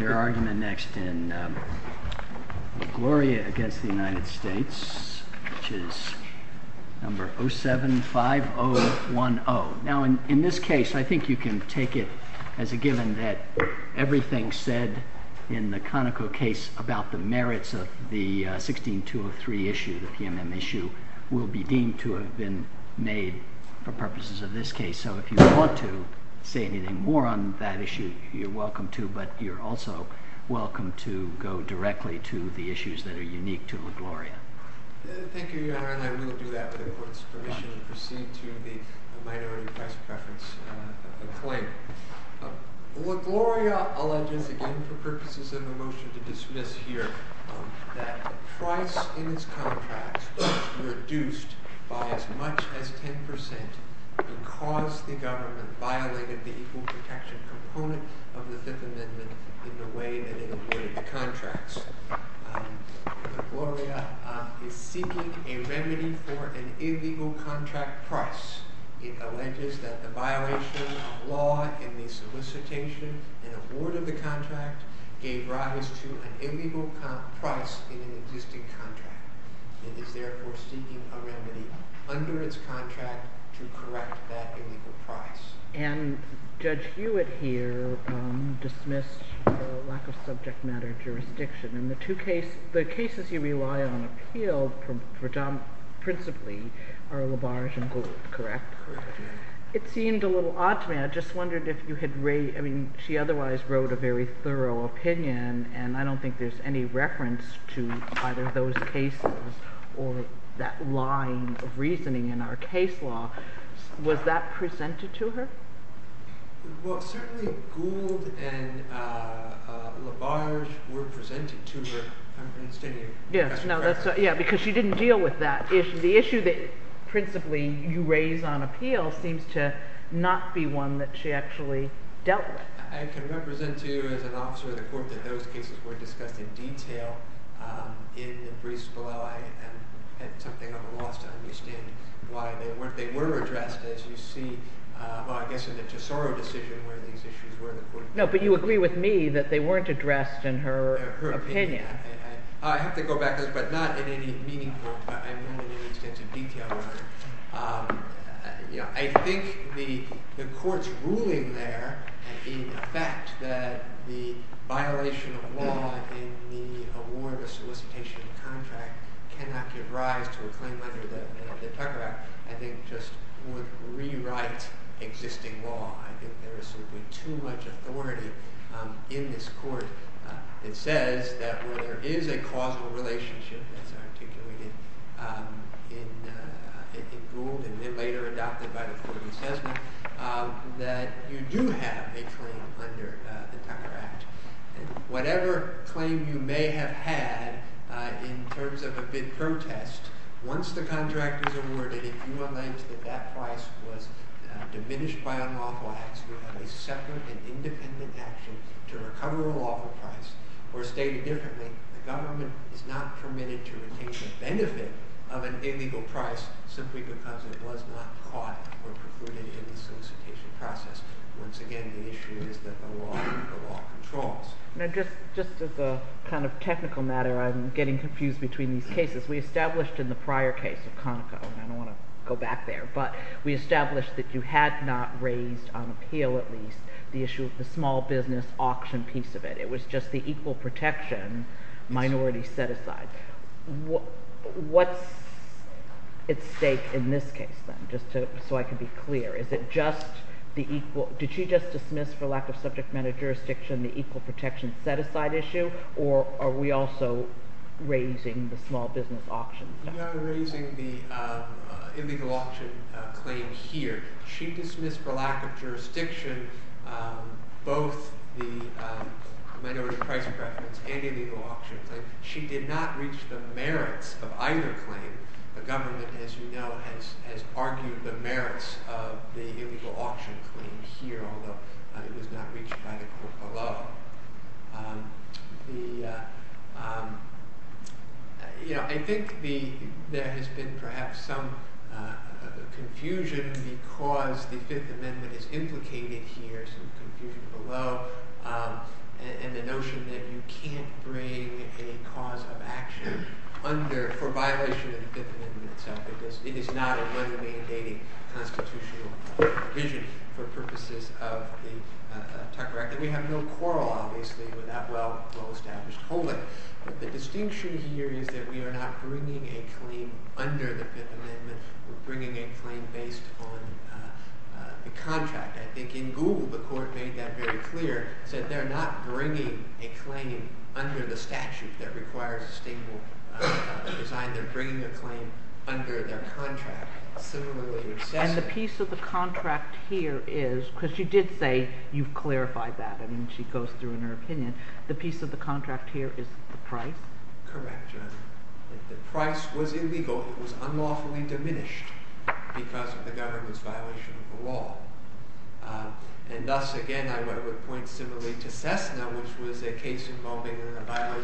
Your argument next in LaGloria v. United States, which is No. 075010. Now, in this case, I think you can take it as a given that everything said in the Conoco case about the merits of the 16203 issue, the PMM issue, will be deemed to have been made for purposes of this case. So if you want to say anything more on that issue, you're welcome to, but you're also welcome to go directly to the issues that are unique to LaGloria. Thank you, Your Honor, and I will do that with the Court's permission and proceed to the Minority Price Preference claim. LaGloria alleges, again for purposes of the motion to dismiss here, that the price in its contracts was reduced by as much as 10 percent because the government violated the equal protection component of the Fifth Amendment in the way that it awarded the contracts. LaGloria is seeking a remedy for an illegal contract price. It alleges that the violation of law in the solicitation and award of the contract gave rise to an illegal price in an existing contract. It is therefore seeking a remedy under its contract to correct that illegal price. And Judge Hewitt here dismissed the lack of subject matter jurisdiction. And the two cases, the cases you rely on appeal principally are LaBarge and Gould, correct? Correct, Your Honor. It seemed a little odd to me. I just wondered if you had, I mean, she otherwise wrote a very thorough opinion, and I don't think there's any reference to either of those cases or that line of reasoning in our case law. Was that presented to her? Well, certainly Gould and LaBarge were presented to her. Yeah, because she didn't deal with that issue. The issue that principally you raise on appeal seems to not be one that she actually dealt with. I can represent to you as an officer of the court that those cases were discussed in detail in the briefs below. I had something of a loss to understand why they weren't. They were addressed, as you see, well, I guess in the Tesoro decision where these issues were. No, but you agree with me that they weren't addressed in her opinion. I have to go back to this, but not in any meaningful, but I mean in an extensive detail manner. I think the court's ruling there, in effect, that the violation of law in the award of solicitation of contract cannot give rise to a claim under the Tucker Act, I think just would rewrite existing law. I think there is simply too much authority in this court. It says that where there is a causal relationship, as articulated in Gould and then later adopted by the court in Sesno, that you do have a claim under the Tucker Act. Whatever claim you may have had in terms of a bid protest, once the contract is awarded, if you allege that that price was diminished by unlawful acts, you have a separate and independent action to recover a lawful price. Or stated differently, the government is not permitted to retain the benefit of an illegal price simply because it was not caught or precluded in the solicitation process. Once again, the issue is that the law controls. Now, just as a kind of technical matter, I'm getting confused between these cases. We established in the prior case of Conoco, and I don't want to go back there, but we established that you had not raised, on appeal at least, the issue of the small business auction piece of it. It was just the equal protection minority set-aside. What's at stake in this case then, just so I can be clear? Did you just dismiss for lack of subject matter jurisdiction the equal protection set-aside issue, or are we also raising the small business auction? We are raising the illegal auction claim here. She dismissed for lack of jurisdiction both the minority price preference and illegal auction claim. She did not reach the merits of either claim. The government, as you know, has argued the merits of the illegal auction claim here, although it was not reached by the court below. I think there has been perhaps some confusion because the Fifth Amendment is implicated here, some confusion below, and the notion that you can't bring a cause of action for violation of the Fifth Amendment itself, because it is not a legally-indating constitutional provision for purposes of the Tucker Act. We have no quarrel, obviously, with that well-established holding. The distinction here is that we are not bringing a claim under the Fifth Amendment. We're bringing a claim based on the contract. I think in Google, the court made that very clear. It said they're not bringing a claim under the statute that requires a stable design. They're bringing a claim under their contract. And the piece of the contract here is, because you did say you've clarified that. I mean, she goes through in her opinion. The piece of the contract here is the price. Correct. The price was illegal. It was unlawfully diminished because of the government's violation of the law. And thus, again, I would point similarly to Cessna, which was a case involving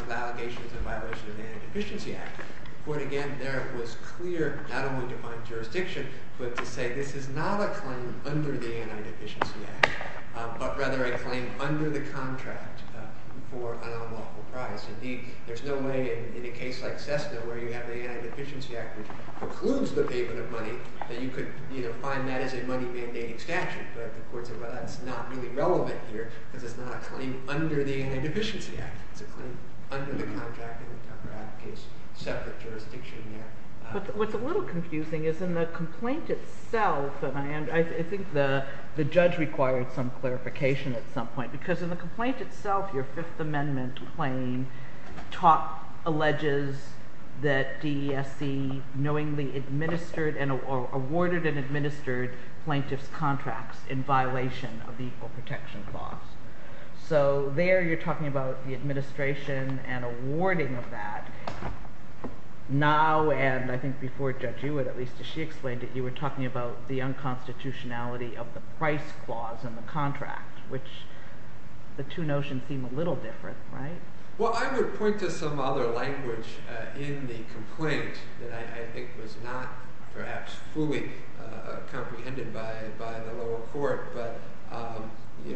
allegations in violation of the Antideficiency Act. But again, there was clear, not only defined jurisdiction, but to say this is not a claim under the Antideficiency Act, but rather a claim under the contract for an unlawful price. Indeed, there's no way in a case like Cessna, where you have the Antideficiency Act, which precludes the payment of money, that you could find that as a money-mandating statute. But the court said, well, that's not really relevant here, because it's not a claim under the Antideficiency Act. It's a claim under the contract in the Tucker Abbey case, separate jurisdiction there. What's a little confusing is in the complaint itself, and I think the judge required some clarification at some point, because in the complaint itself, your Fifth Amendment claim alleges that DESC knowingly awarded and administered plaintiff's contracts in violation of the Equal Protection Clause. So there you're talking about the administration and awarding of that. Now, and I think before Judge Hewitt, at least as she explained it, you were talking about the unconstitutionality of the price clause in the contract, which the two notions seem a little different, right? Well, I would point to some other language in the complaint that I think was not perhaps fully comprehended by the lower court. But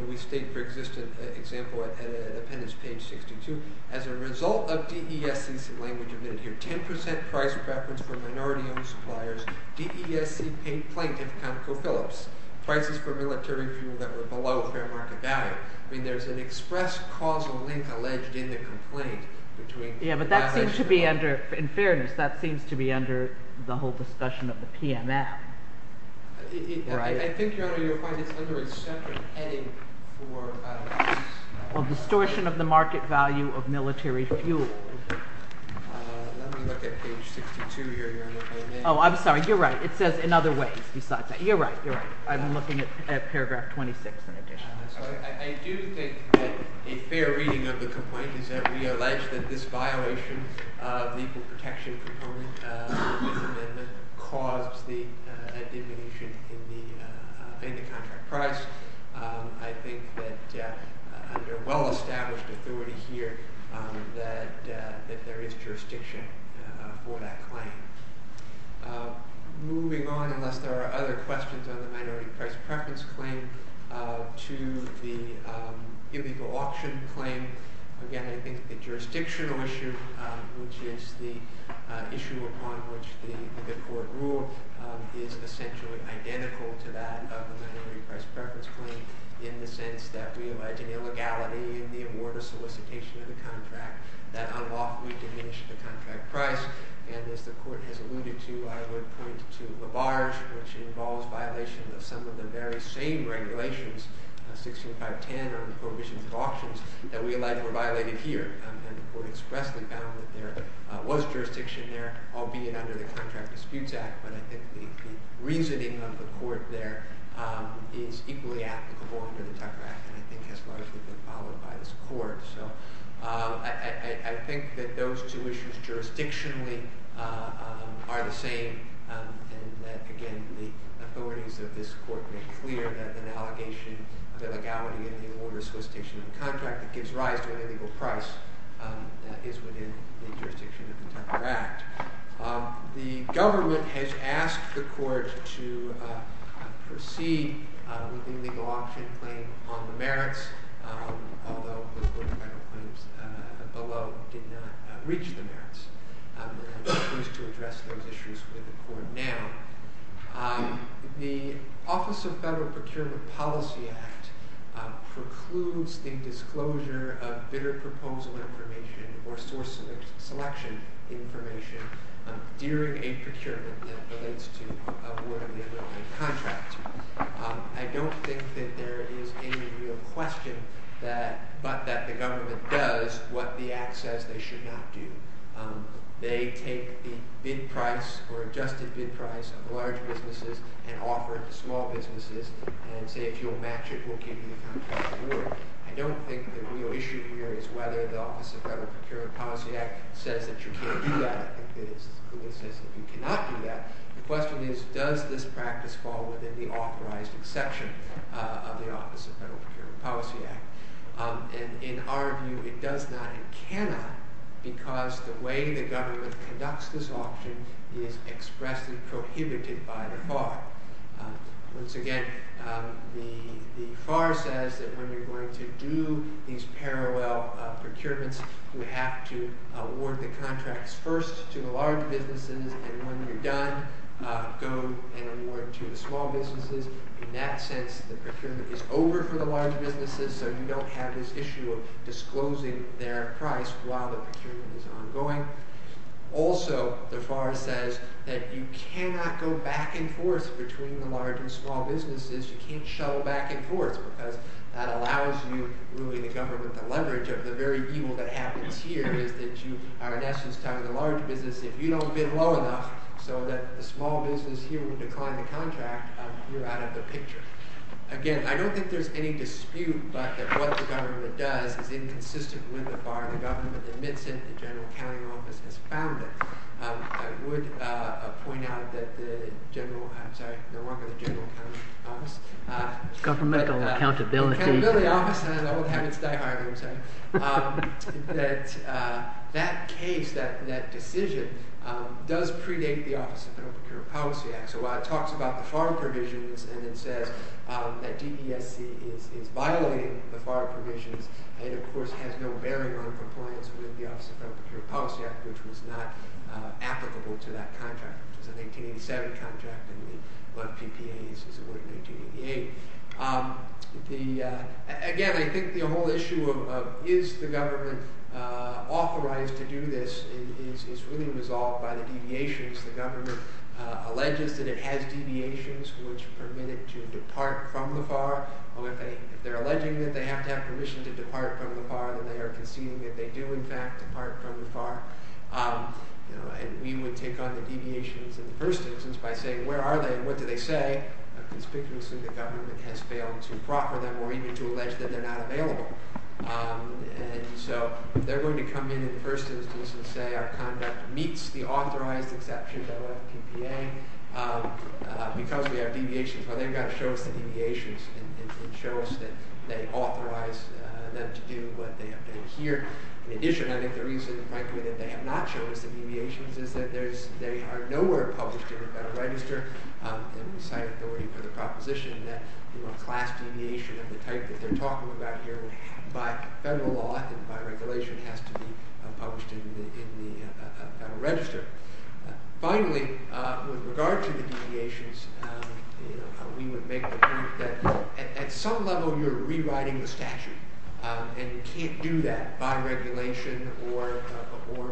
we state for example at appendix page 62, as a result of DESC's language of 10% price preference for minority-owned suppliers, DESC paid plaintiff ConocoPhillips prices for military fuel that were below fair market value. I mean, there's an express causal link alleged in the complaint. Yeah, but that seems to be under, in fairness, that seems to be under the whole discussion of the PMF, right? I think, Your Honor, you'll find it's under a separate heading for… Well, distortion of the market value of military fuel. Let me look at page 62 here, Your Honor. Oh, I'm sorry. You're right. It says in other ways besides that. You're right. You're right. I'm looking at paragraph 26 in addition. I do think that a fair reading of the complaint is that we allege that this violation of the Equal Protection Proponent Amendment caused the diminution in the contract price. I think that under well-established authority here that there is jurisdiction for that claim. Moving on, unless there are other questions on the minority price preference claim, to the illegal auction claim. Again, I think the jurisdictional issue, which is the issue upon which the court ruled, is essentially identical to that of the minority price preference claim in the sense that we allege an illegality in the award or solicitation of the contract that unlawfully diminished the contract price. And as the court has alluded to, I would point to LaBarge, which involves violation of some of the very same regulations, 16.510 on the prohibitions of auctions, that we allege were violated here. And the court expressly found that there was jurisdiction there, albeit under the Contract Disputes Act, but I think the reasoning of the court there is equally applicable under the Tucker Act and I think has largely been followed by this court. So I think that those two issues jurisdictionally are the same and that, again, the authorities of this court made clear that an allegation of illegality in the award or solicitation of the contract that gives rise to an illegal price is within the jurisdiction of the Tucker Act. The government has asked the court to proceed with the illegal auction claim on the merits, although the federal claims below did not reach the merits. They have refused to address those issues with the court now. The Office of Federal Procurement Policy Act precludes the disclosure of bidder proposal information or source selection information during a procurement that relates to award or the ability of contract. I don't think that there is any real question but that the government does what the act says they should not do. They take the bid price or adjusted bid price of large businesses and offer it to small businesses and say if you'll match it, we'll give you the contract award. I don't think the real issue here is whether the Office of Federal Procurement Policy Act says that you can't do that. I think that it says that you cannot do that. The question is does this practice fall within the authorized exception of the Office of Federal Procurement Policy Act. In our view, it does not. It cannot because the way the government conducts this auction is expressed and prohibited by the FAR. Once again, the FAR says that when you're going to do these parallel procurements, you have to award the contracts first to the large businesses and when you're done, go and award to the small businesses. In that sense, the procurement is over for the large businesses and we don't have this issue of disclosing their price while the procurement is ongoing. Also, the FAR says that you cannot go back and forth between the large and small businesses. You can't shuttle back and forth because that allows you, really the government, the leverage of the very evil that happens here is that you are in essence telling the large business if you don't bid low enough so that the small business here will decline the contract, you're out of the picture. Again, I don't think there's any dispute that what the government does is inconsistent with the FAR. The government admits it, the General Accounting Office has found it. I would point out that the General, I'm sorry, no longer the General Accounting Office. Governmental Accountability. Accountability Office, I don't want to have it die hard, I'm sorry. That case, that decision does predate the Office of Federal Procurement Policy Act. So it talks about the FAR provisions and it says that DESC is violating the FAR provisions and of course has no bearing on compliance with the Office of Federal Procurement Policy Act which was not applicable to that contract. It was an 1887 contract and we left PPAs as it were in 1888. Again, I think the whole issue of is the government authorized to do this is really resolved by the deviations the government alleges that it has deviations which permit it to depart from the FAR. If they're alleging that they have to have permission to depart from the FAR, then they are conceding that they do in fact depart from the FAR. And we would take on the deviations in the first instance by saying where are they and what do they say. Conspicuously the government has failed to proffer them or even to allege that they're not available. And so they're going to come in in the first instance and say our conduct meets the authorized exception of PPA. Because we have deviations, well they've got to show us the deviations and show us that they authorize them to do what they hear. In addition, I think the reason frankly that they have not shown us the deviations is that they are nowhere published in the Federal Register and we cite authority for the proposition that class deviation of the type that they're talking about here by federal law and by regulation has to be published in the Federal Register. Finally, with regard to the deviations, we would make the point that at some level you're rewriting the statute and you can't do that by regulation or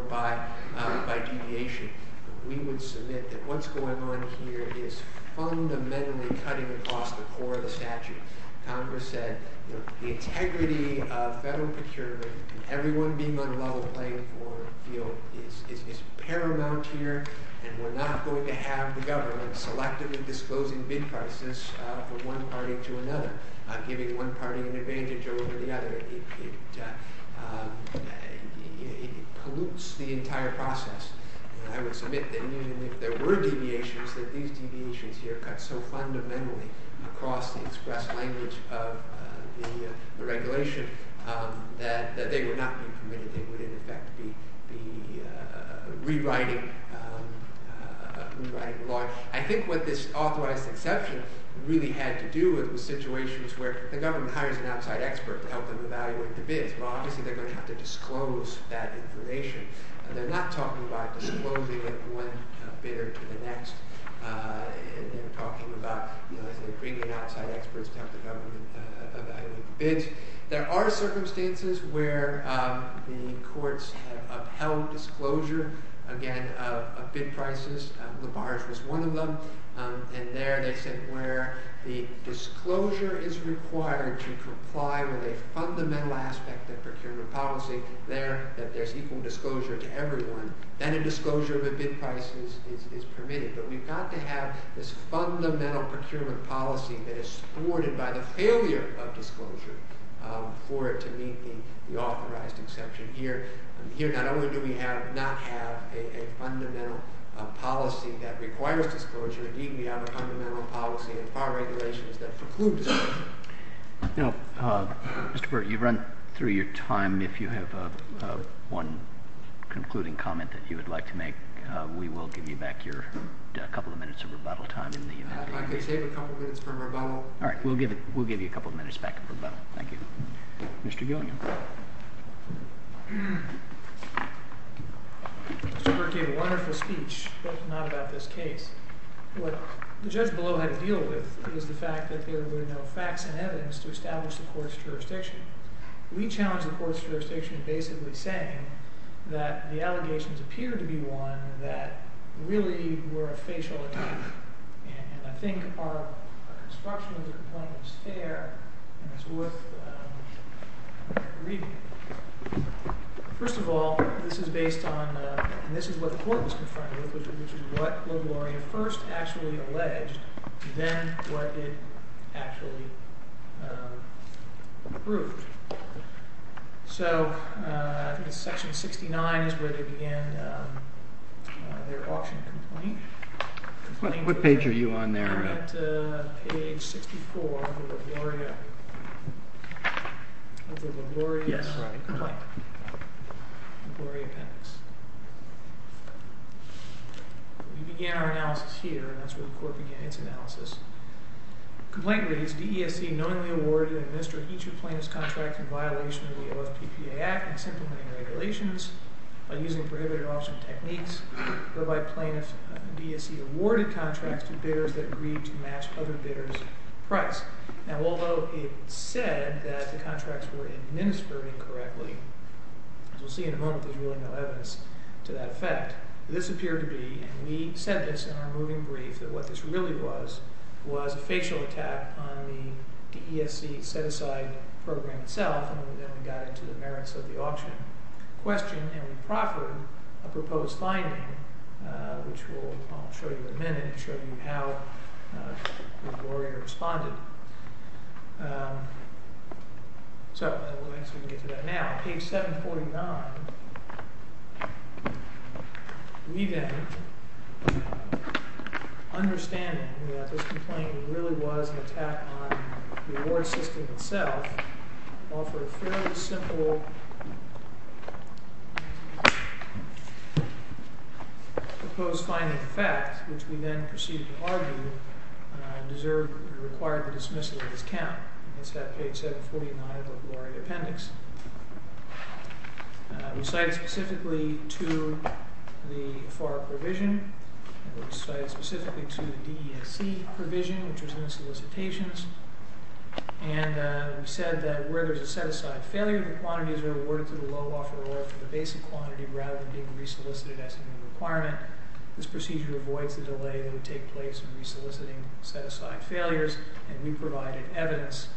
by deviation. We would submit that what's going on here is fundamentally cutting across the core of the statute. Congress said the integrity of federal procurement and everyone being on a level playing field is paramount here and we're not going to have the government selectively disclosing bid prices from one party to another, giving one party an advantage over the other. It pollutes the entire process. And I would submit that even if there were deviations, that these deviations here cut so fundamentally across the express language of the regulation that they would not be permitted. They would, in effect, be rewriting the law. I think what this authorized exception really had to do with was situations where the government hires an outside expert to help them evaluate the bids. Well, obviously they're going to have to disclose that information. They're not talking about disclosing it from one bidder to the next to help the government evaluate the bids. There are circumstances where the courts have upheld disclosure, again, of bid prices. LaBarge was one of them. And there they said where the disclosure is required to comply with a fundamental aspect of procurement policy, that there's equal disclosure to everyone, then a disclosure of a bid price is permitted. But we've got to have this fundamental procurement policy that is thwarted by the failure of disclosure for it to meet the authorized exception here. Here not only do we not have a fundamental policy that requires disclosure, indeed we have a fundamental policy in FAR regulations that precludes it. Mr. Burt, you've run through your time. If you have one concluding comment that you would like to make, we will give you back your couple of minutes of rebuttal time. If I could save a couple of minutes for rebuttal. All right, we'll give you a couple of minutes back for rebuttal. Thank you. Mr. Gilliam. Mr. Burt gave a wonderful speech, but not about this case. What the judge below had to deal with was the fact that there were no facts and evidence to establish the court's jurisdiction. We challenged the court's jurisdiction basically saying that the allegations appeared to be one that really were a facial attack. And I think our construction of the complaint is fair and it's worth reading. First of all, this is based on, and this is what the court was confronted with, which is what LaGloria first actually alleged, then what it actually proved. So section 69 is where they began their auction complaint. What page are you on there? I'm at page 64 of the LaGloria complaint, LaGloria appendix. We began our analysis here, and that's where the court began its analysis. The complaint reads, D.E.S.C. knowingly awarded and administered each of plaintiff's contracts in violation of the OFPPA Act and its implementing regulations by using prohibited auction techniques, whereby plaintiff D.E.S.C. awarded contracts to bidders that agreed to match other bidders' price. Now although it said that the contracts were administered incorrectly, as we'll see in a moment, there's really no evidence to that effect, this appeared to be, and we said this in our moving brief, that what this really was was a facial attack on the D.E.S.C. set-aside program itself, and then we got into the merits of the auction question, and we proffered a proposed finding, which I'll show you in a minute, and show you how LaGloria responded. So we'll see if we can get to that now. Page 749, we then, understanding that this complaint really was an attack on the award system itself, offered a fairly simple proposed finding of fact, which we then proceeded to argue required the dismissal of this count. It's at page 749 of the LaGloria appendix. We cited specifically to the FAR provision, we cited specifically to the D.E.S.C. provision, which was in the solicitations, and we said that where there's a set-aside failure, the quantities are awarded to the low offeror for the basic quantity rather than being re-solicited as a new requirement. This procedure avoids the delay that would take place in re-soliciting set-aside failures, and we provided evidence.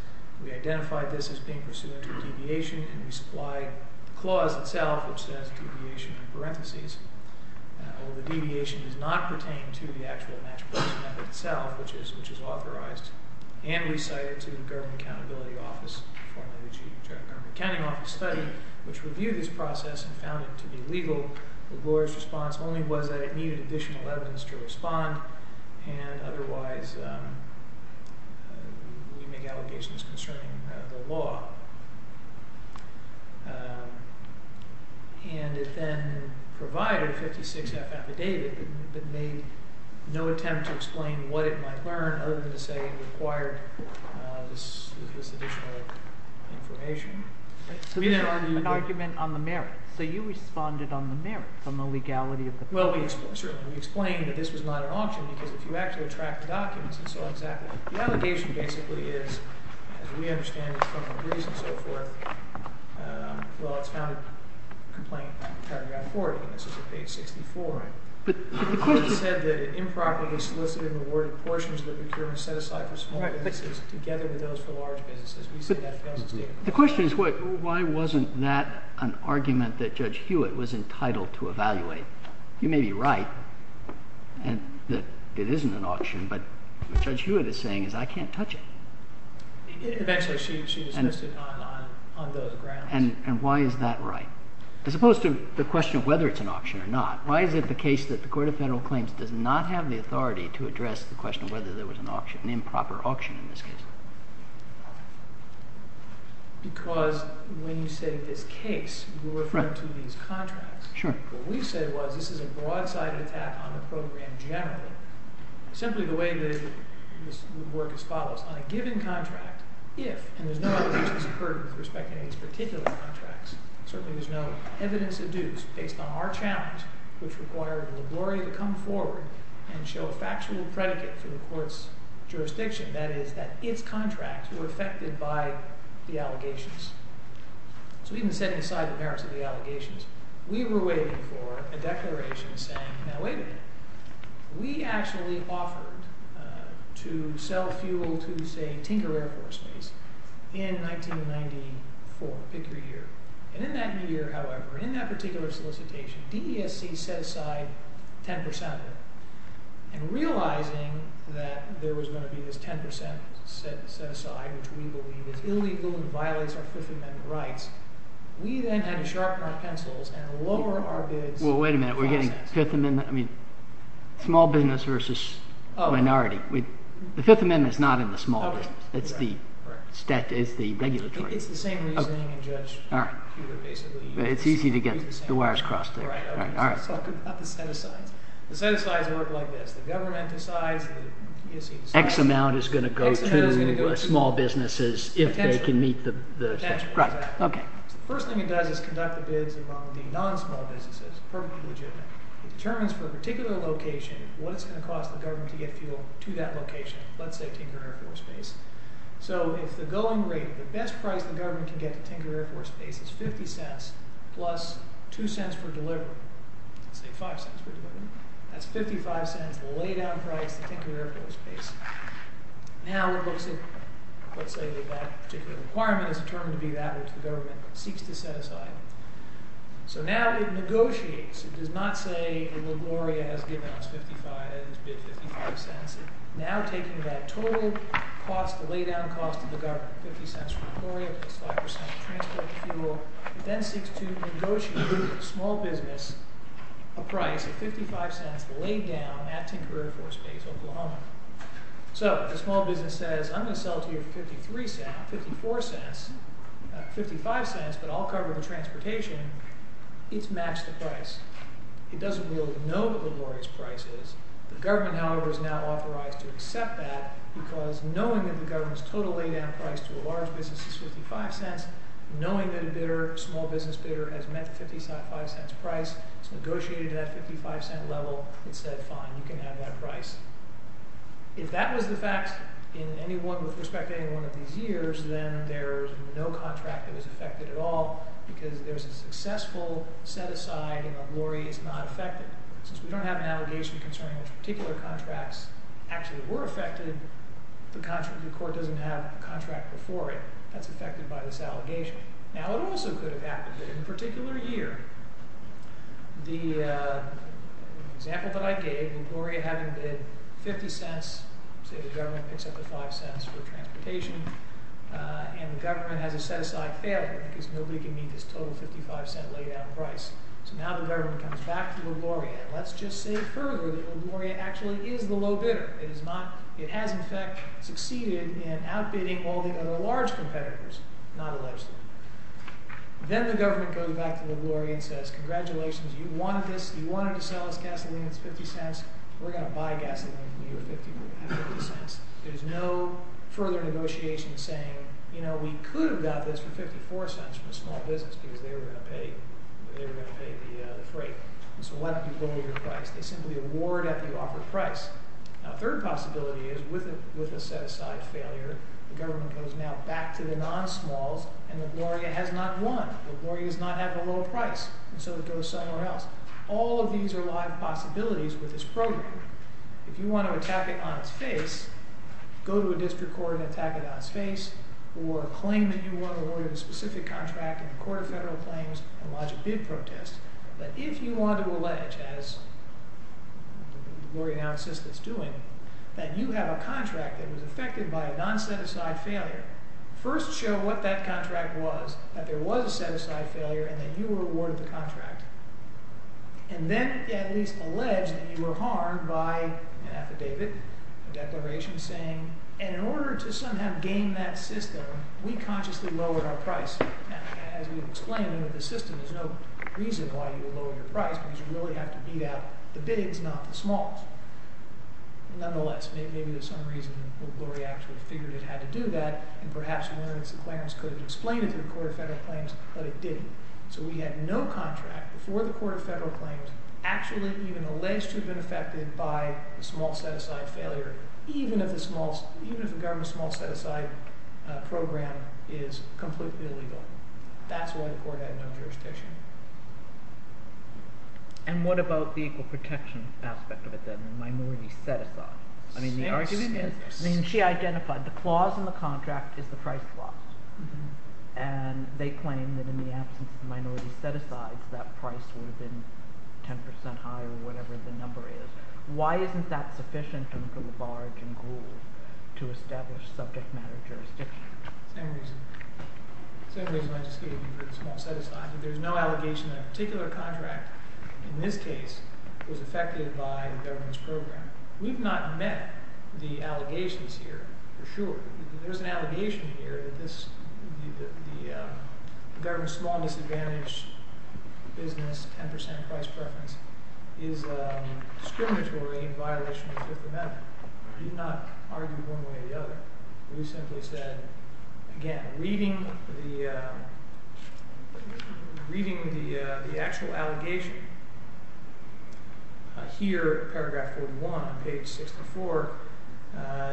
We identified this as being pursuant to a deviation, and we supplied the clause itself, which says deviation in parentheses. The deviation does not pertain to the actual portion of it itself, which is authorized and we cited to the Government Accountability Office, formerly the Government Accounting Office study, which reviewed this process and found it to be legal. LaGloria's response only was that it needed additional evidence to respond, and otherwise we make allegations concerning the law. And it then provided a 56-F affidavit that made no attempt to explain what it might learn other than to say it required this additional information. So this is an argument on the merits. So you responded on the merits, on the legality of the process. Well, we explained that this was not an auction because if you actually track the documents, and so on and so forth, the allegation basically is, as we understand it from the briefs and so forth, well, it's found a complaint paragraph 40, and this is at page 64. The court said that it improperly solicited and rewarded portions of the procurement set aside for small businesses together with those for large businesses. The question is why wasn't that an argument that Judge Hewitt was entitled to evaluate? You may be right that it isn't an auction, but what Judge Hewitt is saying is I can't touch it. Eventually she dismissed it on those grounds. And why is that right? As opposed to the question of whether it's an auction or not, why is it the case that the Court of Federal Claims does not have the authority to address the question of whether there was an improper auction in this case? Because when you say this case, we're referring to these contracts. Sure. What we say was this is a broadside attack on the program generally, simply the way that it would work as follows. On a given contract, if, and there's no evidence that's occurred with respect to any of these particular contracts, certainly there's no evidence of dues based on our challenge, which required LaGloria to come forward and show a factual predicate for the court's jurisdiction, that is that its contracts were affected by the allegations. So even setting aside the merits of the allegations, we were waiting for a declaration saying, now wait a minute. We actually offered to sell fuel to, say, Tinker Air Force Base in 1994. Pick your year. And in that year, however, in that particular solicitation, DESC set aside 10%. And realizing that there was going to be this 10% set aside, which we believe is illegal and violates our Fifth Amendment rights, we then had to sharpen our pencils and lower our bids. Well, wait a minute. We're getting Fifth Amendment, I mean, small business versus minority. The Fifth Amendment is not in the small business. It's the regulatory. It's easy to get the wires crossed there. All right. The set asides work like this. The government decides... X amount is going to go to small businesses if they can meet the... Right. OK. The first thing it does is conduct the bids among the non-small businesses, perfectly legitimate. It determines for a particular location what it's going to cost the government to get fuel to that location, let's say Tinker Air Force Base. It's $0.50 plus $0.02 for delivery. Let's say $0.05 for delivery. That's $0.55, the lay-down price at Tinker Air Force Base. Now it looks at, let's say that that particular requirement is determined to be that which the government seeks to set aside. So now it negotiates. It does not say that LaGloria has given us $0.55. It's bid $0.55. Now taking that total cost, the lay-down cost of the government, $0.50 for LaGloria plus 5% then seeks to negotiate with the small business a price of $0.55 laid down at Tinker Air Force Base, Oklahoma. So the small business says, I'm going to sell it to you for $0.53, $0.54, $0.55, but I'll cover the transportation. It's matched the price. It doesn't really know what LaGloria's price is. The government, however, is now authorized to accept that because knowing that the government's total lay-down price to a large business is $0.55, small business bidder has met the $0.55 price. It's negotiated at that $0.55 level. It said, fine, you can have that price. If that was the fact in anyone with respect to anyone of these years, then there's no contract that was affected at all because there's a successful set-aside and LaGloria is not affected. Since we don't have an allegation concerning which particular contracts actually were affected, the court doesn't have a contract before it. That's affected by this allegation. In particular year, the example that I gave, LaGloria having bid $0.50, say the government picks up the $0.05 for transportation, and the government has a set-aside failure because nobody can meet this total $0.55 lay-down price. So now the government comes back to LaGloria, and let's just say further that LaGloria actually is the low bidder. It has, in fact, succeeded in outbidding all the other large competitors, not allegedly. Then the government goes back to LaGloria and says, congratulations, you wanted this, you wanted to sell us gasoline, it's $0.50, we're going to buy gasoline for you at $0.50. There's no further negotiation saying, you know, we could have got this for $0.54 from a small business because they were going to pay the freight. So why don't you lower your price? They simply award at the offered price. Now a third possibility is with a set-aside failure, the government goes now back to the non-smalls, and LaGloria has not won. LaGloria is not having a low price, and so it goes somewhere else. All of these are live possibilities with this program. If you want to attack it on its face, go to a district court and attack it on its face, or claim that you want to award a specific contract in the Court of Federal Claims and launch a bid protest. But if you want to allege, as LaGloria now insists it's doing, that you have a contract that was affected by a non-set-aside failure, first show what that contract was, that there was a set-aside failure, and that you were awarded the contract. And then at least allege that you were harmed by an affidavit, a declaration saying, and in order to somehow gain that system, we consciously lowered our price. Now as we've explained with the system, there's no reason why you would lower your price because you really have to beat out the bigs, not the smalls. Nonetheless, maybe there's some reason LaGloria actually figured it had to do that, and perhaps Lawrence and Clarence could have explained it to the Court of Federal Claims, but it didn't. So we had no contract before the Court of Federal Claims actually even alleged to have been affected by the small set-aside failure, even if the government's small set-aside program is completely illegal. That's why the Court had no jurisdiction. And what about the equal protection aspect of it then, the minority set-aside? I mean the argument is, I mean she identified the clause in the contract is the price clause, and they claim that in the absence of the minority set-asides, that price would have been 10% higher or whatever the number is. Why isn't that sufficient to look at the barge and gruel to establish subject matter jurisdiction? Same reason. Same reason I just gave you for the small set-aside. There's no allegation that a particular contract in this case was affected by the government's program. We've not met the allegations here for sure. There's an allegation here that the government's small disadvantage business, 10% price preference, is discriminatory in violation of the Fifth Amendment. We did not argue one way or the other. We simply said, again, reading the actual allegation here, paragraph 41, page 64,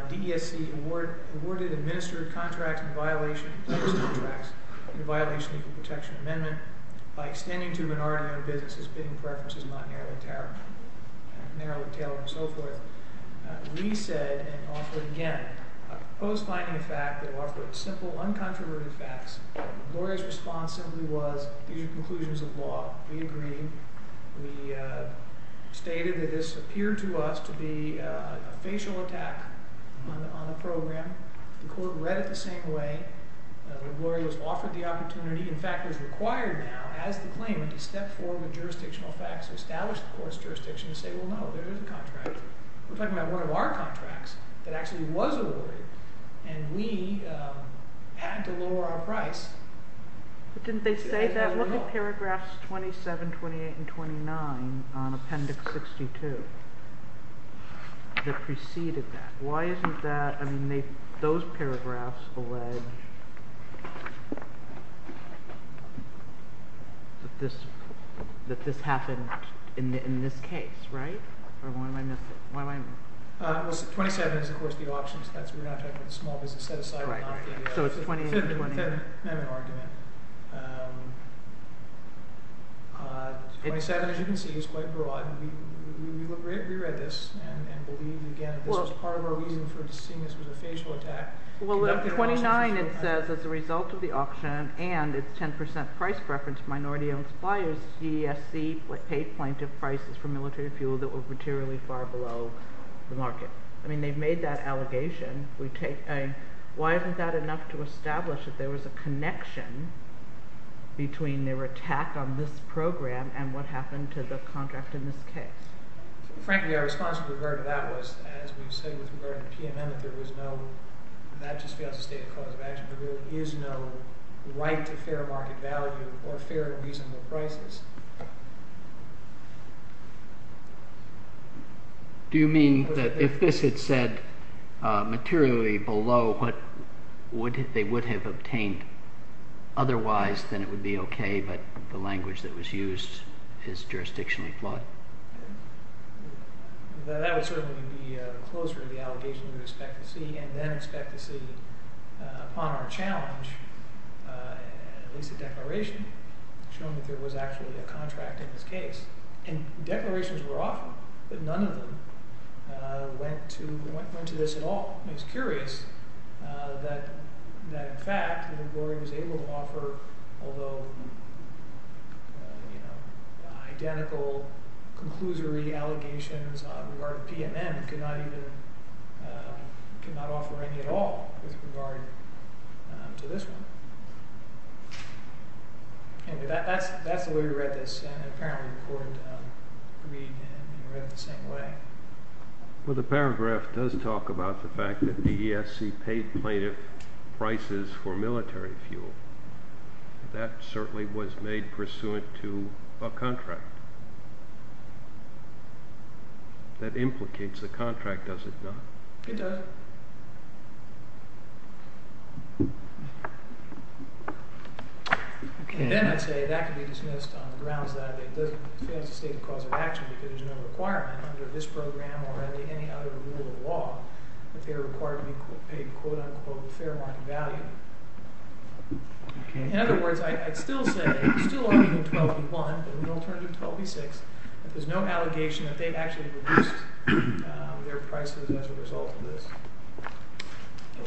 DESC awarded administered contracts in violation of the Equal Protection Amendment by extending to minority-owned businesses bidding preferences not narrowly tailored, and so forth. We said and offered, again, a proposed finding of fact that offered simple, uncontroverted facts. Gloria's response simply was these are conclusions of law. We agreed. We stated that this appeared to us to be a facial attack on the program. The court read it the same way. When Gloria was offered the opportunity, in fact is required now as the claimant to step forward with jurisdictional facts to establish the court's jurisdiction and say, well, no, there is a contract. We're talking about one of our contracts that actually was awarded, and we had to lower our price. Didn't they say that? I'm looking at paragraphs 27, 28, and 29 on appendix 62 that preceded that. Why isn't that? I mean, those paragraphs allege that this happened in this case, right? Or why am I missing? Well, 27 is, of course, the options. We're not talking about the small business set-aside. So it's 28 and 28. I don't have an argument. 27, as you can see, is quite broad. We read this and believe, again, that this was part of our reason for seeing this was a facial attack. Well, 29, it says, as a result of the auction and its 10% price preference of minority-owned suppliers, DESC paid plaintiff prices for military fuel that were materially far below the market. I mean, they've made that allegation. Why isn't that enough to establish that there was a connection between their attack on this program and what happened to the contract in this case? Frankly, our response with regard to that was, as we've said with regard to PMM, that there was no—that just fails to state a cause of action. There really is no right to fair market value or fair and reasonable prices. Do you mean that if this had said materially below what they would have paid otherwise, then it would be okay, but the language that was used is jurisdictionally flawed? That would certainly be closer to the allegation we would expect to see, and then expect to see, upon our challenge, at least a declaration showing that there was actually a contract in this case. And declarations were often, but none of them went to this at all. It's curious that, in fact, the lawyer was able to offer, although identical, conclusory allegations in regard to PMM could not offer any at all with regard to this one. Anyway, that's the way we read this, and apparently the court agreed and read it the same way. Well, the paragraph does talk about the fact that the ESC paid plaintiff prices for military fuel. That certainly was made pursuant to a contract. That implicates the contract, does it not? It does. And then I'd say that can be dismissed on the grounds that it fails to state the cause of action because there's no requirement under this program or any other rule of law for the court to be paid quote unquote fair market value. In other words, I'd still say, still arguing 12 v. 1, but with an alternative 12 v. 6, that there's no allegation that they actually reduced their prices as a result of this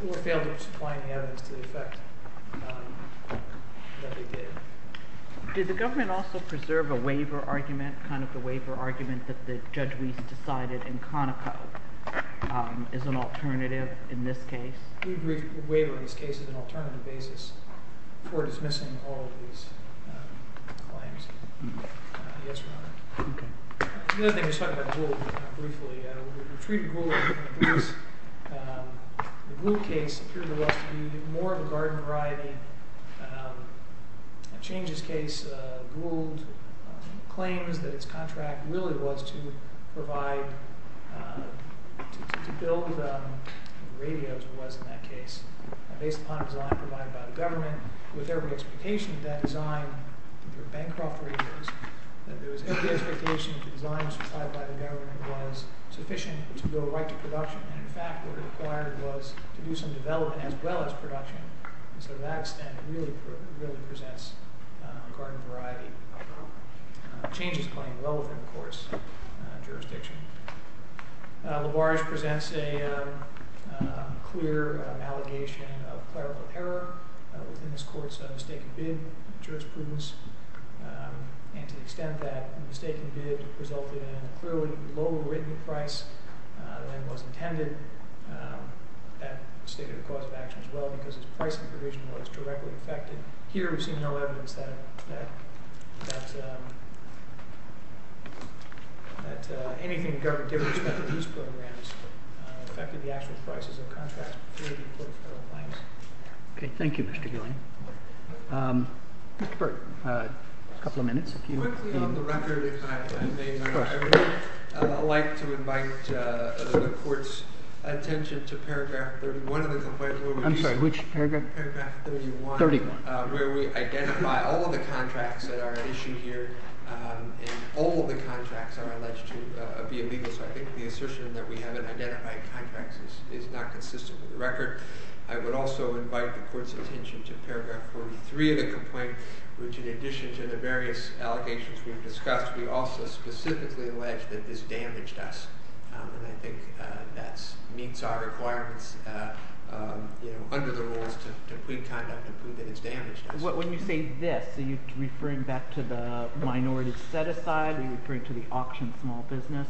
or failed to supply any evidence to the effect that they did. Did the government also preserve a waiver argument, kind of the waiver argument that Judge Weiss decided in Conoco as an alternative in this case? We agreed to waive on this case as an alternative basis before dismissing all of these claims. Yes, Your Honor. The other thing, we were talking about Gould briefly. We treated Gould as a different case. The Gould case appeared to us to be more of a garden variety. In Chang's case, Gould claims that its contract really was to provide to build radios, or was in that case, based upon a design provided by the government with every expectation that design through Bancroft radios, that there was every expectation that the design supplied by the government was sufficient to go right to production. In fact, what it required was to do some development as well as production. To that extent, it really presents a garden variety. Chang's claim, well within the court's jurisdiction. Labarge presents a clear allegation of clerical error within this court's mistaken bid jurisprudence. To the extent that the mistaken bid resulted in a clearly low written price than was intended, that stated a cause of action as well because its pricing provision was directly affected. Here, we've seen no evidence that anything the government did with respect to these programs affected the actual prices of contracts with three of the important federal banks. Okay, thank you, Mr. Gillian. Mr. Burton, a couple of minutes. Quickly on the record, if I may, I would like to invite the court's attention to paragraph 31 of the complaint. I'm sorry, which paragraph? Paragraph 31. Where we identify all of the contracts that are at issue here. All of the contracts are alleged to be illegal. I think the assertion that we haven't identified contracts is not consistent with the record. I would also invite the court's attention to paragraph 43 of the complaint which in addition to the various allegations we've discussed, we also specifically allege that this damaged us. I think that meets our requirements under the rules to plead conduct and prove that it's damaged us. When you say this, are you referring back to the minority set-aside? Are you referring to the auction small business?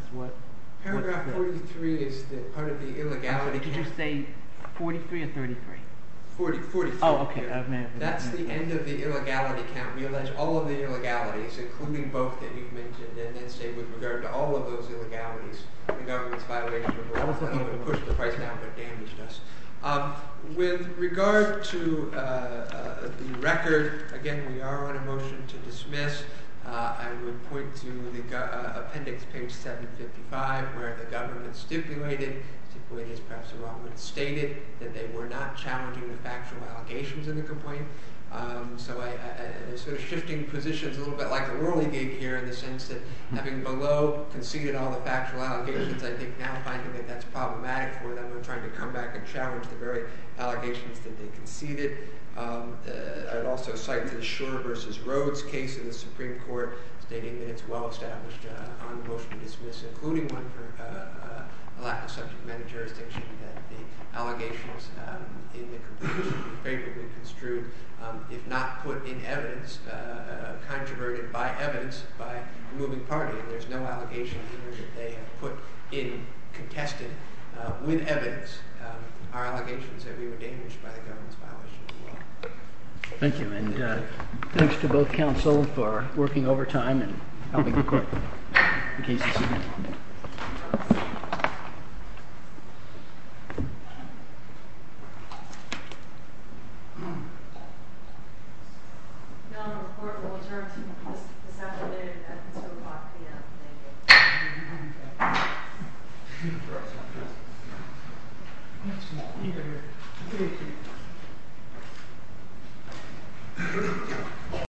Paragraph 43 is part of the illegality count. Did you say 43 or 33? 43. Oh, okay. That's the end of the illegality count. We allege all of the illegalities, including both that you've mentioned, and then say with regard to all of those illegalities the government's violation of the law pushed the price down but damaged us. With regard to the record, again we are on a motion to dismiss. I would point to appendix page 755 where the government stipulated, stipulated is perhaps a wrong word, stated that they were not challenging the factual allegations in the complaint. So they're sort of shifting positions a little bit like a whirligig here in the sense that having below conceded all the factual allegations I think now finding that that's problematic for them and trying to come back and challenge the very allegations that they conceded. I would also cite the Shore v. Rhodes case in the Supreme Court stating that it's well established on motion to dismiss, including one for a lack of subject matter jurisdiction that the allegations in the complaint should be favorably construed, if not put in evidence, controverted by evidence, by the moving party. There's no allegation here that they have put in contested, with evidence, our allegations that we were damaged by the government's violation of the law. Thank you and thanks to both counsel for working over time and helping the court in cases like this. Your Honor, the court will adjourn until 2 o'clock p.m.